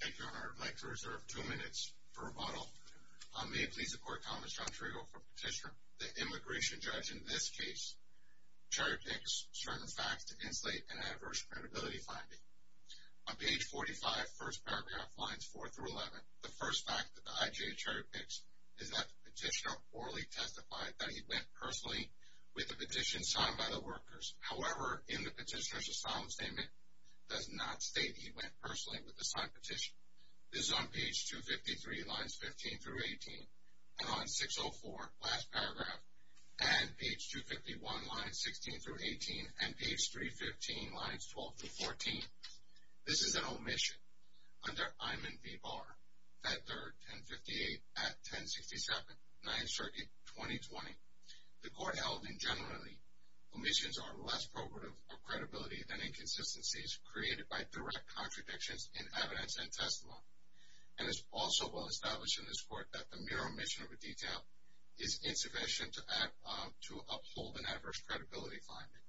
Thank you, Your Honor. I'd like to reserve two minutes for rebuttal. May it please the Court, I'm Thomas John Trigo from Petitioner. The immigration judge in this case, Cherry Picks, strung the facts to insulate an adverse credibility finding. On page 45, first paragraph, lines 4 through 11, the first fact that the I.J. Cherry Picks is that the petitioner orally testified that he went personally with the petition signed by the workers. However, in the petitioner's asylum statement, does not state he went personally with the signed petition. This is on page 253, lines 15 through 18, and on 604, last paragraph, and page 251, lines 16 through 18, and page 315, lines 12 through 14. This is an omission. Under Imon v. Barr, Fed 3rd, 1058, Act 1067, 9th Circuit, 2020, the Court held that generally, omissions are less probative of credibility than inconsistencies created by direct contradictions in evidence and testimony. And it's also well established in this Court that the mere omission of a detail is insufficient to uphold an adverse credibility finding.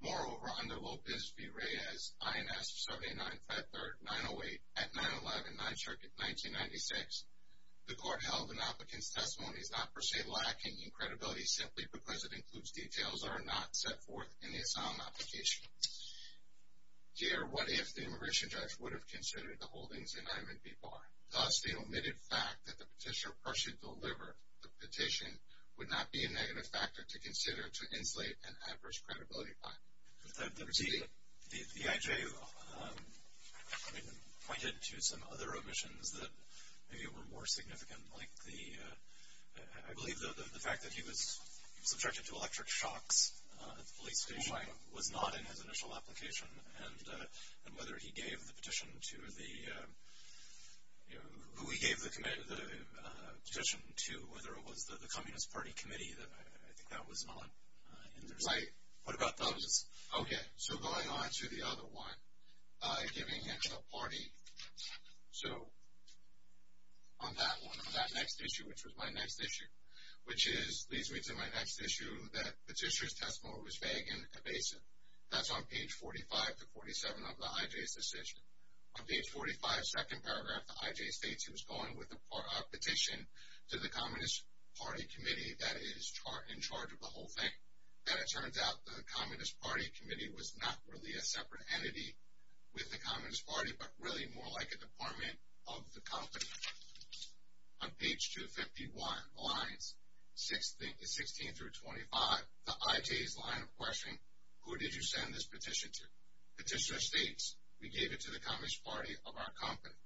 Moreover, under Lopez v. Reyes, I.N.S. 79, Fed 3rd, 908, Act 911, 9th Circuit, 1996, the Court held an applicant's testimony is not per se lacking in credibility simply because it includes details that are not set forth in the asylum application. Here, what if the immigration judge would have considered the holdings in Imon v. Barr? Thus, the omitted fact that the petitioner personally delivered the petition would not be a negative factor to consider to insulate an adverse credibility finding. The I.J. pointed to some other omissions that maybe were more significant, like the, I believe the fact that he was subjected to electric shocks at the police station was not in his initial application, and whether he gave the petition to the, who he gave the petition to, whether it was the Communist Party committee, I think that was not in there. Okay, so going on to the other one, giving it to a party. So on that one, on that next issue, which was my next issue, which leads me to my next issue, that the petitioner's testimony was vague and evasive. That's on page 45 to 47 of the I.J.'s decision. On page 45, second paragraph, the I.J. states he was going with a petition to the Communist Party committee that is in charge of the whole thing. And it turns out the Communist Party committee was not really a separate entity with the Communist Party, but really more like a department of the company. On page 251, lines 16 through 25, the I.J.'s line of questioning, who did you send this petition to? Petitioner states, we gave it to the Communist Party of our company.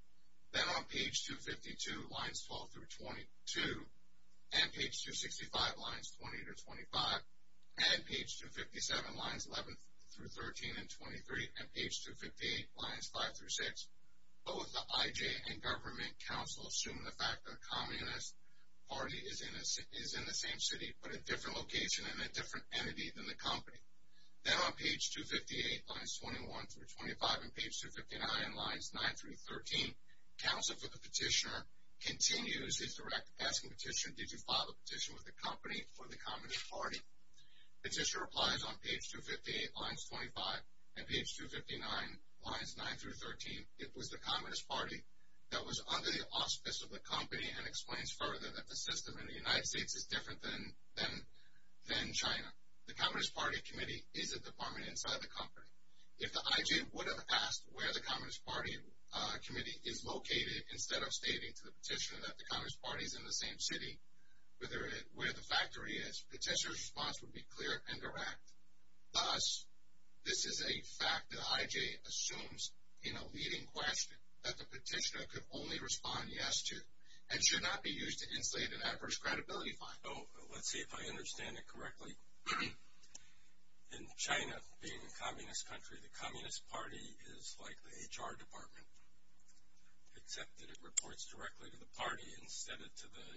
Then on page 252, lines 12 through 22, and page 265, lines 20 through 25, and page 257, lines 11 through 13 and 23, and page 258, lines 5 through 6, both the I.J. and government counsel assume the fact that the Communist Party is in the same city, but a different location and a different entity than the company. Then on page 258, lines 21 through 25, and page 259, lines 9 through 13, counsel for the petitioner continues his direct asking petition, did you file a petition with the company for the Communist Party? Petitioner replies on page 258, lines 25, and page 259, lines 9 through 13, it was the Communist Party that was under the auspice of the company and explains further that the system in the United States is different than China. The Communist Party committee is a department inside the company. If the I.J. would have asked where the Communist Party committee is located instead of stating to the petitioner that the Communist Party is in the same city, where the factory is, petitioner's response would be clear and direct. Thus, this is a fact that I.J. assumes in a leading question that the petitioner could only respond yes to and should not be used to insulate an adverse credibility finding. So, let's see if I understand it correctly. In China, being a communist country, the Communist Party is like the HR department, except that it reports directly to the party instead of to the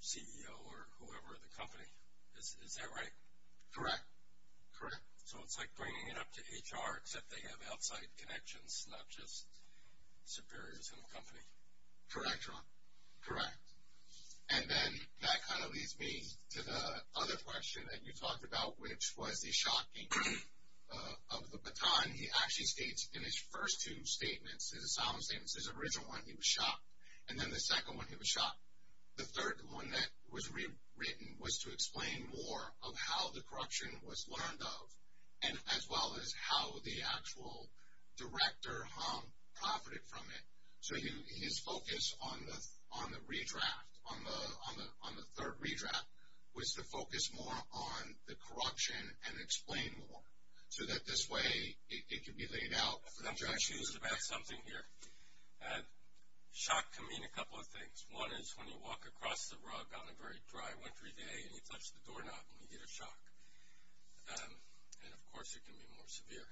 CEO or whoever in the company. Is that right? Correct. Correct. So, it's like bringing it up to HR, except they have outside connections, not just superiors in the company. Correct, John. Correct. And then that kind of leads me to the other question that you talked about, which was the shocking of the baton. He actually states in his first two statements, his asylum statements, his original one he was shocked, and then the second one he was shocked. The third one that was rewritten was to explain more of how the corruption was learned of, as well as how the actual director profited from it. So, his focus on the redraft, on the third redraft, was to focus more on the corruption and explain more so that this way it could be laid out. I'm confused about something here. Shock can mean a couple of things. One is when you walk across the rug on a very dry, wintry day and you touch the doorknob and you get a shock. And, of course, it can be more severe.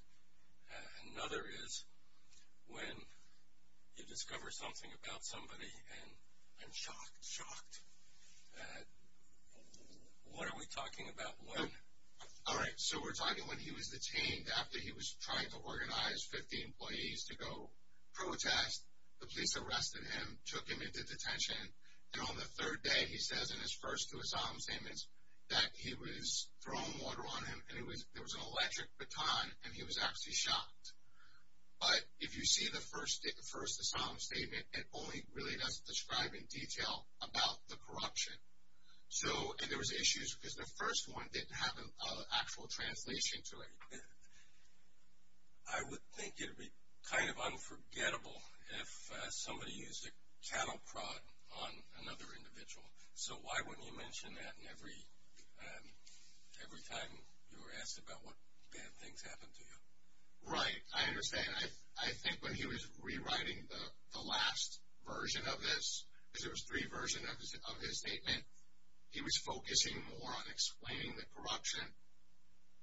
Another is when you discover something about somebody and I'm shocked, shocked. What are we talking about? All right, so we're talking when he was detained after he was trying to organize 50 employees to go protest. The police arrested him, took him into detention, and on the third day, he says in his first two asylum statements, that he was thrown water on him and there was an electric baton and he was actually shocked. But if you see the first asylum statement, it only really does describe in detail about the corruption. And there was issues because the first one didn't have an actual translation to it. I would think it would be kind of unforgettable if somebody used a cattle prod on another individual. So why wouldn't you mention that every time you were asked about what bad things happened to you? Right, I understand. I think when he was rewriting the last version of this, because there was three versions of his statement, he was focusing more on explaining the corruption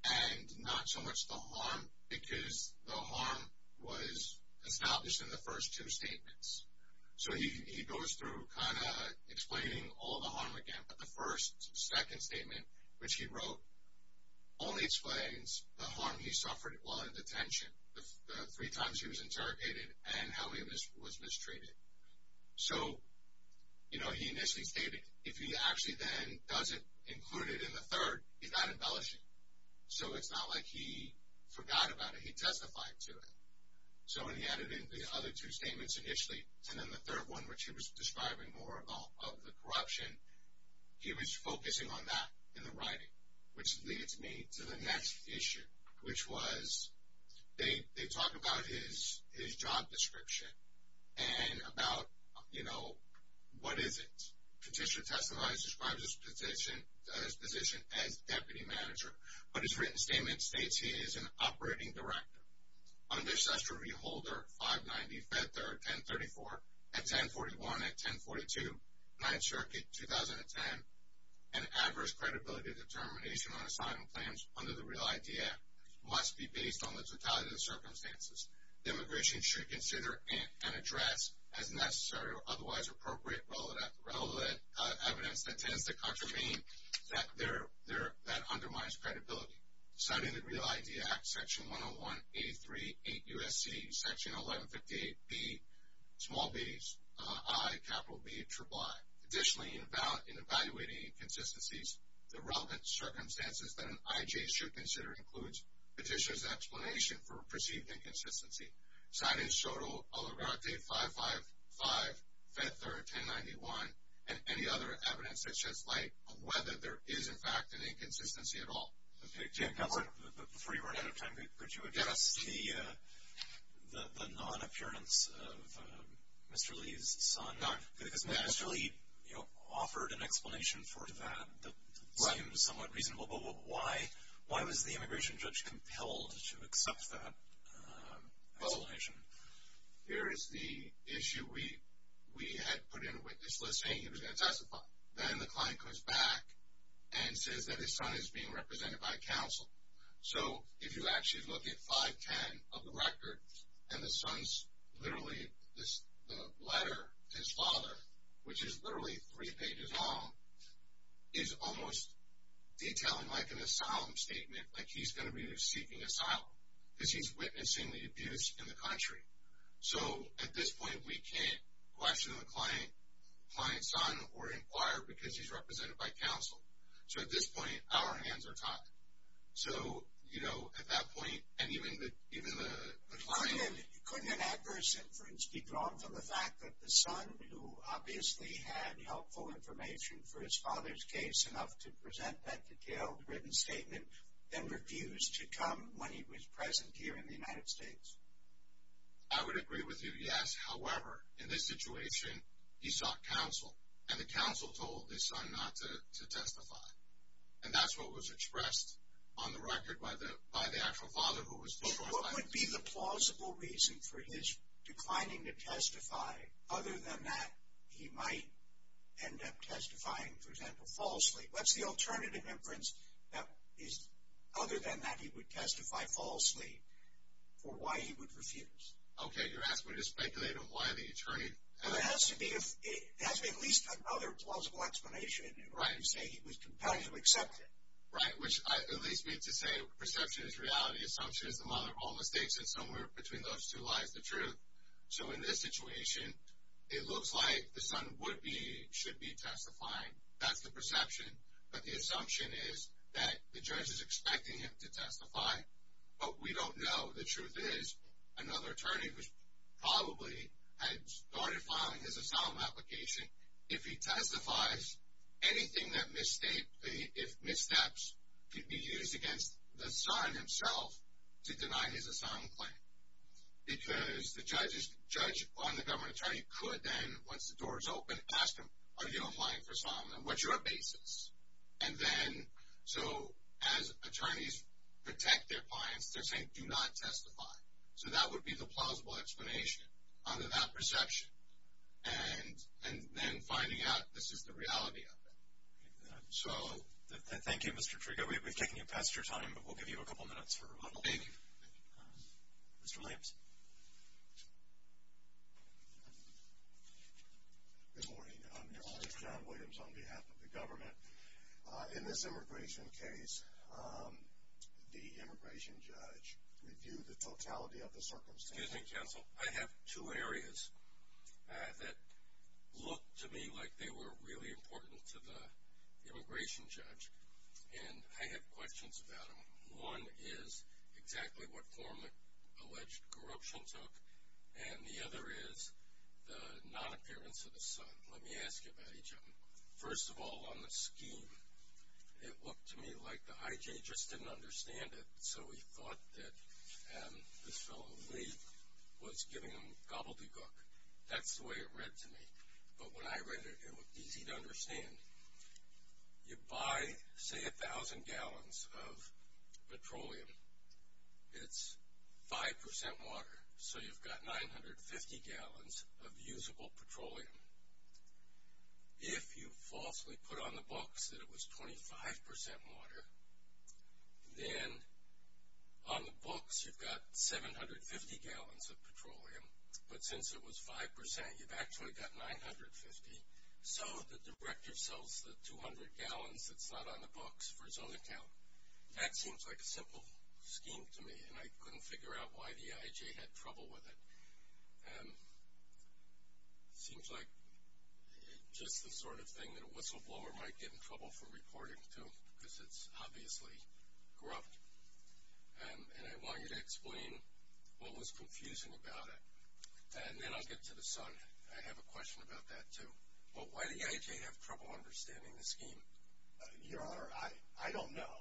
and not so much the harm because the harm was established in the first two statements. So he goes through kind of explaining all the harm again, but the first second statement, which he wrote, only explains the harm he suffered while in detention, the three times he was interrogated and how he was mistreated. So, you know, he initially stated, if he actually then doesn't include it in the third, he's not embellishing. So it's not like he forgot about it, he testified to it. So when he added in the other two statements initially, and then the third one, which he was describing more of the corruption, he was focusing on that in the writing, which leads me to the next issue, which was they talk about his job description and about, you know, what is it? Petitioner testifies, describes his position as deputy manager, but his written statement states he is an operating director. Under SESTA Review Holder 590, Fed 3rd, 1034, at 1041 and 1042, 9th Circuit, 2010, an adverse credibility determination on assignment plans under the Real ID Act must be based on the totality of the circumstances. The immigration should consider and address as necessary or otherwise appropriate relevant evidence that tends to contravene that undermines credibility. Citing the Real ID Act, Section 101, 83, 8 U.S.C., Section 1158B, small b's, I, capital B, triple I. Additionally, in evaluating inconsistencies, the relevant circumstances that an I.J. should consider includes petitioner's explanation for perceived inconsistency, citing SOTO Allegrate 555, Fed 3rd, 1091, and any other evidence that sheds light on whether there is, in fact, an inconsistency at all. Before you run out of time, could you address the non-appearance of Mr. Lee's son? Because Mr. Lee offered an explanation for that that seemed somewhat reasonable, but why was the immigration judge compelled to accept that explanation? Here is the issue. We had put in a witness list saying he was going to testify. Then the client comes back and says that his son is being represented by counsel. So if you actually look at 510 of the record, and the son's literally, the letter to his father, which is literally three pages long, is almost detailing like an asylum statement, like he's going to be seeking asylum because he's witnessing the abuse in the country. So at this point, we can't question the client's son or inquire because he's represented by counsel. So at this point, our hands are tied. So, you know, at that point, and even the client... Couldn't an adverse inference be drawn from the fact that the son, who obviously had helpful information for his father's case, enough to present that detailed written statement, then refused to come when he was present here in the United States? I would agree with you, yes. However, in this situation, he sought counsel, and the counsel told his son not to testify. And that's what was expressed on the record by the actual father who was... What would be the plausible reason for his declining to testify, other than that he might end up testifying, for example, falsely? What's the alternative inference, other than that he would testify falsely, for why he would refuse? Okay, you're asking me to speculate on why the attorney... Well, there has to be at least another plausible explanation to say he was competitively accepted. Right, which at least means to say perception is reality, assumption is the mother of all mistakes, and somewhere between those two lies the truth. So in this situation, it looks like the son would be, should be testifying. That's the perception. But the assumption is that the judge is expecting him to testify. But we don't know. The truth is, another attorney probably had started filing his asylum application. If he testifies, anything that missteps could be used against the son himself to deny his asylum claim. Because the judge on the government attorney could then, once the door is open, ask him, are you applying for asylum? What's your basis? And then, so as attorneys protect their clients, they're saying do not testify. So that would be the plausible explanation under that perception, and then finding out this is the reality of it. So... Thank you, Mr. Trigo. We've taken you past your time, but we'll give you a couple minutes for rebuttal. Thank you. Mr. Williams. Good morning. This is John Williams on behalf of the government. In this immigration case, the immigration judge reviewed the totality of the circumstances. Excuse me, counsel. I have two areas that look to me like they were really important to the immigration judge, and I have questions about them. One is exactly what form alleged corruption took, and the other is the non-appearance of the son. Let me ask you about each of them. First of all, on the scheme, it looked to me like the I.J. just didn't understand it, so he thought that this fellow Lee was giving him gobbledygook. That's the way it read to me. You buy, say, 1,000 gallons of petroleum. It's 5% water, so you've got 950 gallons of usable petroleum. If you falsely put on the books that it was 25% water, then on the books you've got 750 gallons of petroleum, but since it was 5%, you've actually got 950. So the director sells the 200 gallons that's not on the books for his own account. That seems like a simple scheme to me, and I couldn't figure out why the I.J. had trouble with it. It seems like just the sort of thing that a whistleblower might get in trouble for reporting to because it's obviously corrupt, and I want you to explain what was confusing about it, and then I'll get to the son. I have a question about that, too. Why did the I.J. have trouble understanding the scheme? Your Honor, I don't know.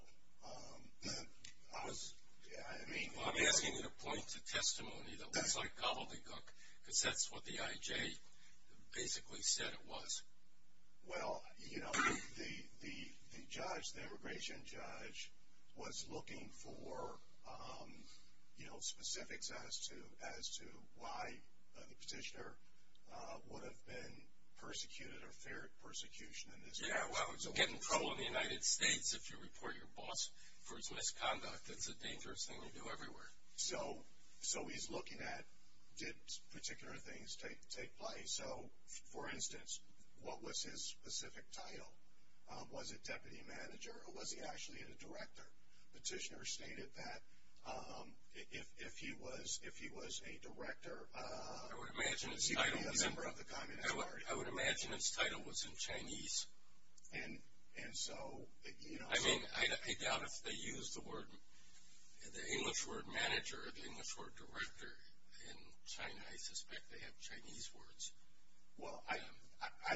I'm asking you to point to testimony that looks like gobbledygook because that's what the I.J. basically said it was. Well, you know, the judge, the immigration judge, was looking for, you know, specifics as to why the petitioner would have been persecuted or feared persecution in this case. Yeah, well, to get in trouble in the United States if you report your boss for his misconduct, that's a dangerous thing to do everywhere. So he's looking at did particular things take place. So, for instance, what was his specific title? Was it deputy manager, or was he actually a director? The petitioner stated that if he was a director, he would be a member of the Communist Party. I would imagine his title was in Chinese. And so, you know. I mean, I doubt if they used the English word manager or the English word director in China. I suspect they have Chinese words. Well, I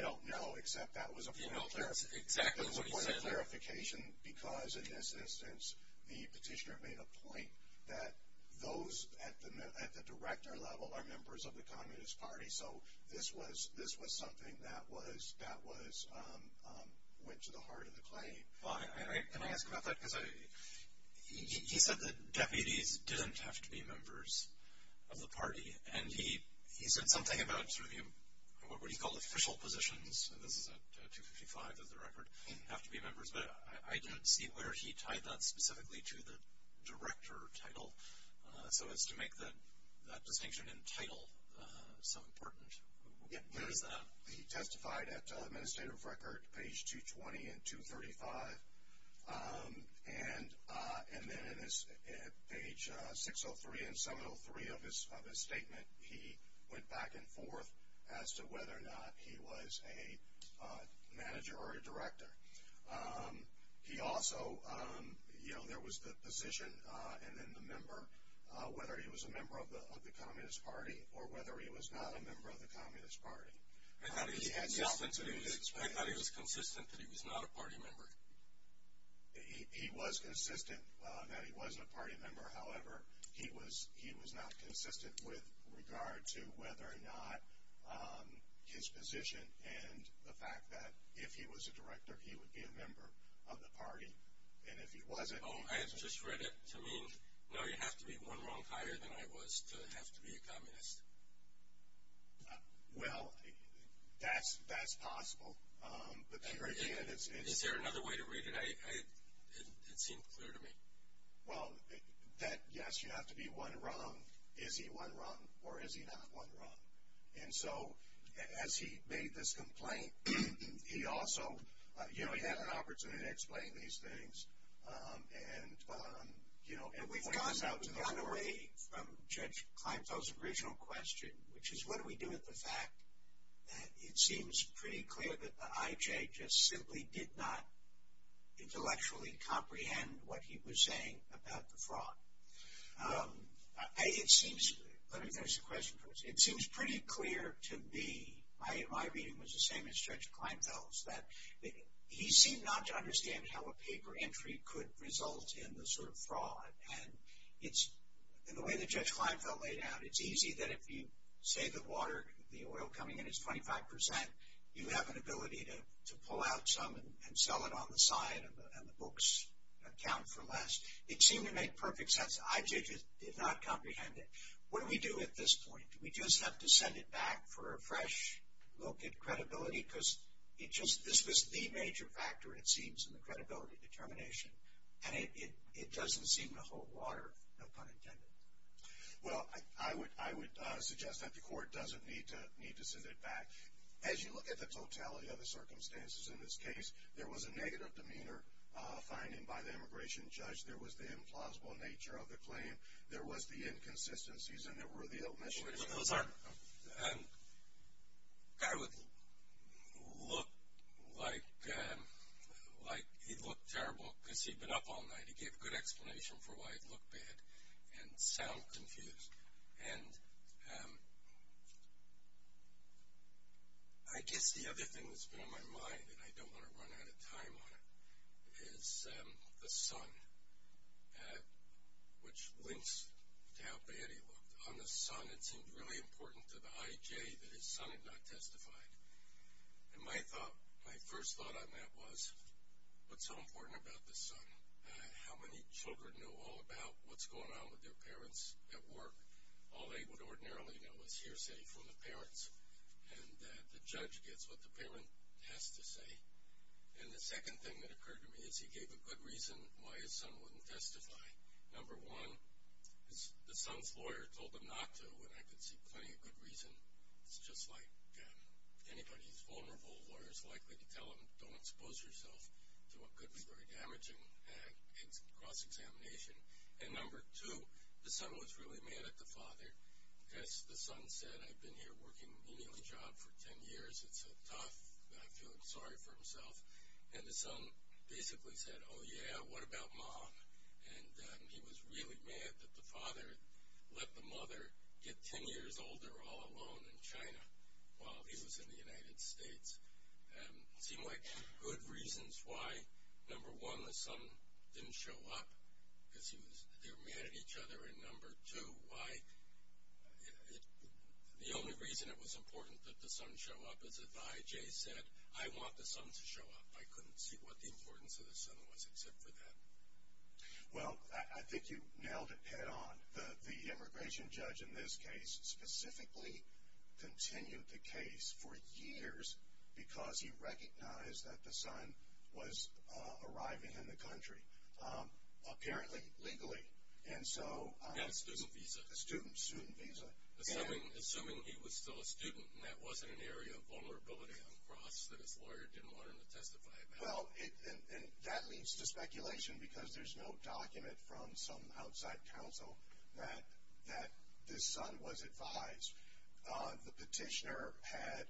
don't know, except that was a point of clarification. Because, in this instance, the petitioner made a point that those at the director level are members of the Communist Party. So this was something that went to the heart of the claim. Can I ask about that? Because he said the deputies didn't have to be members of the party. And he said something about what he called official positions. This is at 255 of the record, have to be members. But I didn't see where he tied that specifically to the director title, so as to make that distinction in title so important. Where is that? He testified at administrative record, page 220 and 235. And then at page 603 and 703 of his statement, he went back and forth as to whether or not he was a manager or a director. He also, you know, there was the position and then the member, whether he was a member of the Communist Party or whether he was not a member of the Communist Party. I thought he was consistent that he was not a party member. He was consistent that he wasn't a party member. However, he was not consistent with regard to whether or not his position and the fact that if he was a director, he would be a member of the party. And if he wasn't, he wasn't. Oh, I had just read it to mean, no, you have to be one rank higher than I was to have to be a communist. Well, that's possible. Is there another way to read it? It seemed clear to me. Well, yes, you have to be one rank. Is he one rank or is he not one rank? And so as he made this complaint, he also, you know, he had an opportunity to explain these things. And we've gone away from Judge Kleinfeld's original question, which is what do we do with the fact that it seems pretty clear that the IJ just simply did not intellectually comprehend what he was saying about the fraud. It seems, let me finish the question first. It seems pretty clear to me, my reading was the same as Judge Kleinfeld's, that he seemed not to understand how a paper entry could result in the sort of fraud. And it's, in the way that Judge Kleinfeld laid out, it's easy that if you say the water, the oil coming in is 25%, you have an ability to pull out some and sell it on the side and the books account for less. It seemed to make perfect sense. The IJ just did not comprehend it. What do we do at this point? Do we just have to send it back for a fresh look at credibility? Because this is the major factor, it seems, in the credibility determination. And it doesn't seem to hold water, no pun intended. Well, I would suggest that the court doesn't need to send it back. As you look at the totality of the circumstances in this case, there was a negative demeanor finding by the immigration judge. There was the implausible nature of the claim. There was the inconsistencies and there were the omissions. I would look like he'd look terrible because he'd been up all night. He gave a good explanation for why he'd look bad and sound confused. And I guess the other thing that's been on my mind, and I don't want to run out of time on it, is the son, which links to how bad he looked. On the son, it seemed really important to the IJ that his son had not testified. And my first thought on that was, what's so important about this son? How many children know all about what's going on with their parents at work? All they would ordinarily know is hearsay from the parents. And the judge gets what the parent has to say. And the second thing that occurred to me is he gave a good reason why his son wouldn't testify. Number one, the son's lawyer told him not to, and I could see plenty of good reason. It's just like anybody who's vulnerable, a lawyer's likely to tell them, don't expose yourself to what could be very damaging in cross-examination. And number two, the son was really mad at the father because the son said, I've been here working an emailing job for ten years, it's tough, I feel sorry for himself. And the son basically said, oh, yeah, what about mom? And he was really mad that the father let the mother get ten years older all alone in China while he was in the United States. It seemed like good reasons why, number one, the son didn't show up, because they were mad at each other, and number two, why the only reason it was important that the son show up is that the IJ said, I want the son to show up. I couldn't see what the importance of the son was except for that. Well, I think you nailed it head-on. The immigration judge in this case specifically continued the case for years because he recognized that the son was arriving in the country, apparently, legally. Now a student visa. A student visa. Assuming he was still a student and that wasn't an area of vulnerability on the cross that his lawyer didn't want him to testify about. Well, and that leads to speculation because there's no document from some outside counsel that this son was advised. The petitioner had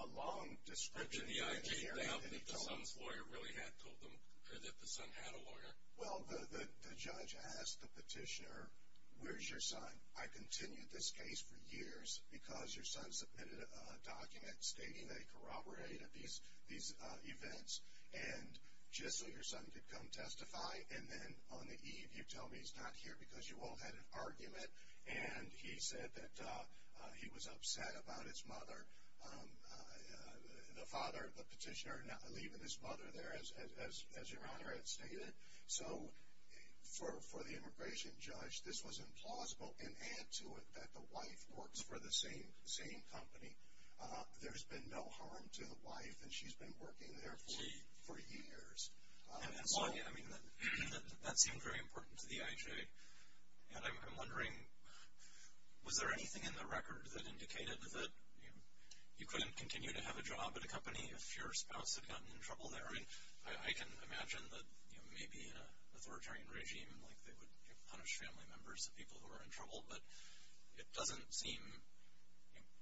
a long description in the area that he told them. The IJ found that the son's lawyer really had told them that the son had a lawyer. Well, the judge asked the petitioner, where's your son? I continued this case for years because your son submitted a document stating that he corroborated these events, and just so your son could come testify, and then on the eve you tell me he's not here because you all had an argument and he said that he was upset about his mother. The father of the petitioner leaving his mother there, as Your Honor had stated. So for the immigration judge, this was implausible, and add to it that the wife works for the same company. There's been no harm to the wife, and she's been working there for years. And so that seemed very important to the IJ, and I'm wondering, was there anything in the record that indicated that you couldn't continue to have a job at a company if your spouse had gotten in trouble there? I mean, I can imagine that maybe in an authoritarian regime, like they would punish family members of people who were in trouble, but it doesn't seem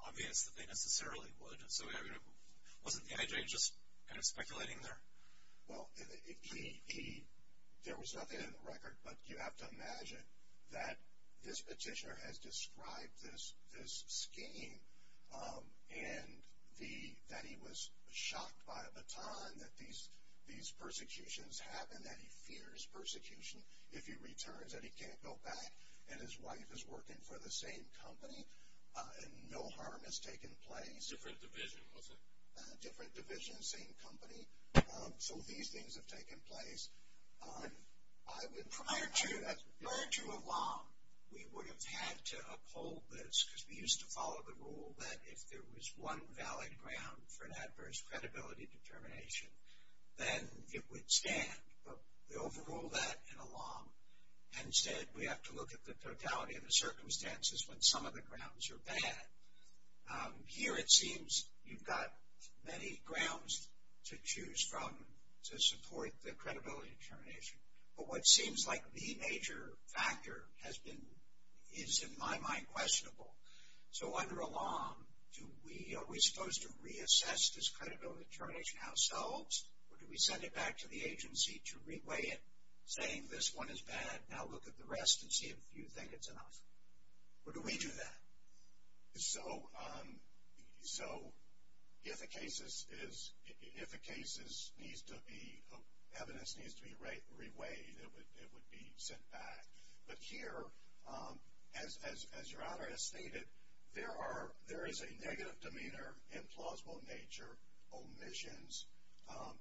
obvious that they necessarily would. So wasn't the IJ just kind of speculating there? Well, there was nothing in the record, but you have to imagine that this petitioner has described this scheme and that he was shocked by a baton that these persecutions happen, that he fears persecution if he returns, that he can't go back, and his wife is working for the same company, and no harm has taken place. Different division, was it? Different division, same company. So these things have taken place. Prior to ALOM, we would have had to uphold this, because we used to follow the rule that if there was one valid ground for an adverse credibility determination, then it would stand. But they overruled that in ALOM, and said we have to look at the totality of the circumstances when some of the grounds are bad. Here it seems you've got many grounds to choose from to support the credibility determination. But what seems like the major factor is, in my mind, questionable. So under ALOM, are we supposed to reassess this credibility determination ourselves, or do we send it back to the agency to reweigh it, saying this one is bad, now look at the rest and see if you think it's enough? Or do we do that? So if a case is needs to be, evidence needs to be reweighed, it would be sent back. But here, as your Honor has stated, there is a negative demeanor, implausible nature, omissions,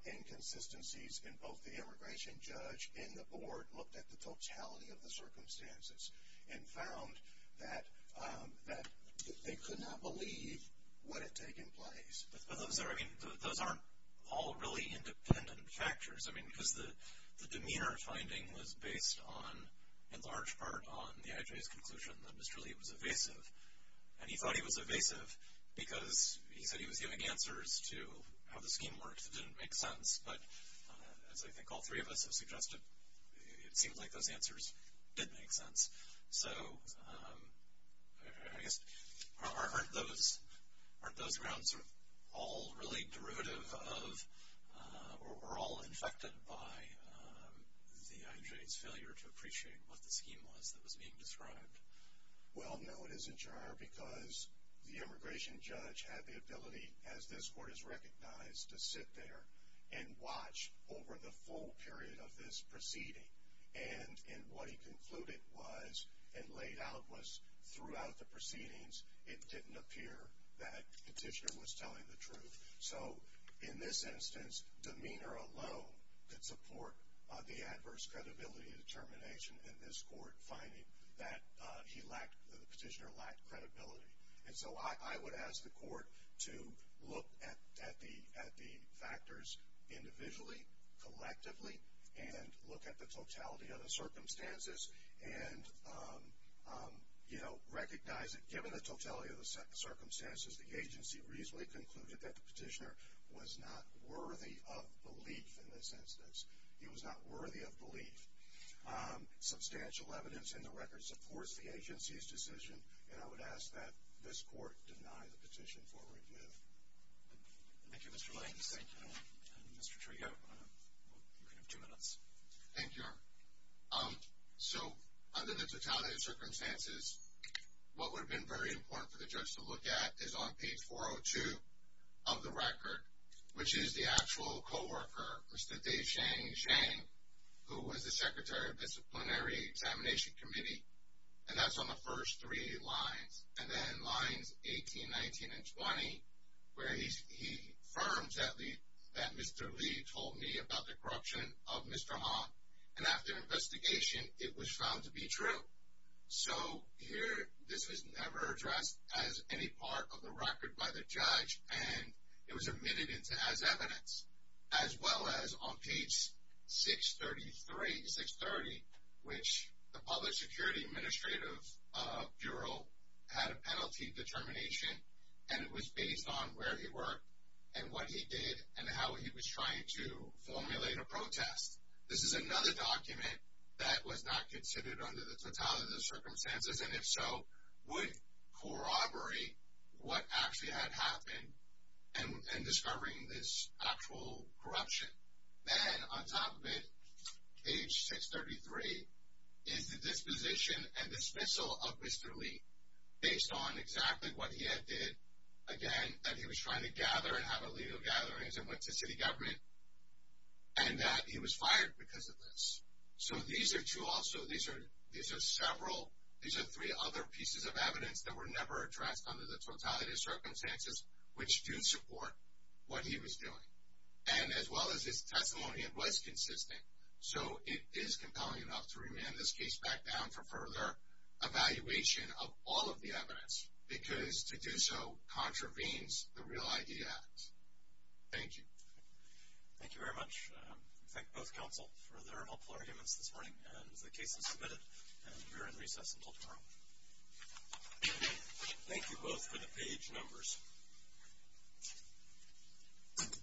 inconsistencies in both the immigration judge and the board that looked at the totality of the circumstances and found that they could not believe what had taken place. But those aren't all really independent factors. I mean, because the demeanor finding was based on, in large part, on the IJ's conclusion that Mr. Lee was evasive. And he thought he was evasive because he said he was giving answers to how the scheme worked that didn't make sense. But as I think all three of us have suggested, it seems like those answers did make sense. So I guess, aren't those grounds all really derivative of, or all infected by the IJ's failure to appreciate what the scheme was that was being described? Well, no, it isn't, Your Honor, because the immigration judge had the ability, as this court has recognized, to sit there and watch over the full period of this proceeding. And what he concluded was, and laid out was, throughout the proceedings, it didn't appear that the petitioner was telling the truth. So in this instance, demeanor alone could support the adverse credibility determination in this court finding that the petitioner lacked credibility. And so I would ask the court to look at the factors individually, collectively, and look at the totality of the circumstances and, you know, recognize that, given the totality of the circumstances, the agency reasonably concluded that the petitioner was not worthy of belief in this instance. He was not worthy of belief. Substantial evidence in the record supports the agency's decision, and I would ask that this court deny the petition for review. Thank you, Mr. Lane. Thank you, Your Honor. Mr. Trio, you have two minutes. Thank you, Your Honor. So under the totality of circumstances, what would have been very important for the judge to look at is on page 402 of the record, which is the actual co-worker, Mr. Dave Shang, who was the secretary of disciplinary examination committee, and that's on the first three lines, and then lines 18, 19, and 20, where he affirms that Mr. Lee told me about the corruption of Mr. Han. And after investigation, it was found to be true. So here this was never addressed as any part of the record by the judge, and it was admitted as evidence, as well as on page 633 to 630, which the Public Security Administrative Bureau had a penalty determination, and it was based on where he worked and what he did and how he was trying to formulate a protest. This is another document that was not considered under the totality of circumstances, and if so, would corroborate what actually had happened in discovering this actual corruption. And on top of it, page 633, is the disposition and dismissal of Mr. Lee based on exactly what he had did, again, that he was trying to gather and have illegal gatherings and went to city government, and that he was fired because of this. So these are two also, these are several, these are three other pieces of evidence that were never addressed under the totality of circumstances, which do support what he was doing. And as well as his testimony, it was consistent, so it is compelling enough to remand this case back down for further evaluation of all of the evidence, because to do so contravenes the Real ID Act. Thank you. Thank you very much. We thank both counsel for their helpful arguments this morning, and the case is submitted, and we are in recess until tomorrow. Thank you both for the page numbers. Thank you.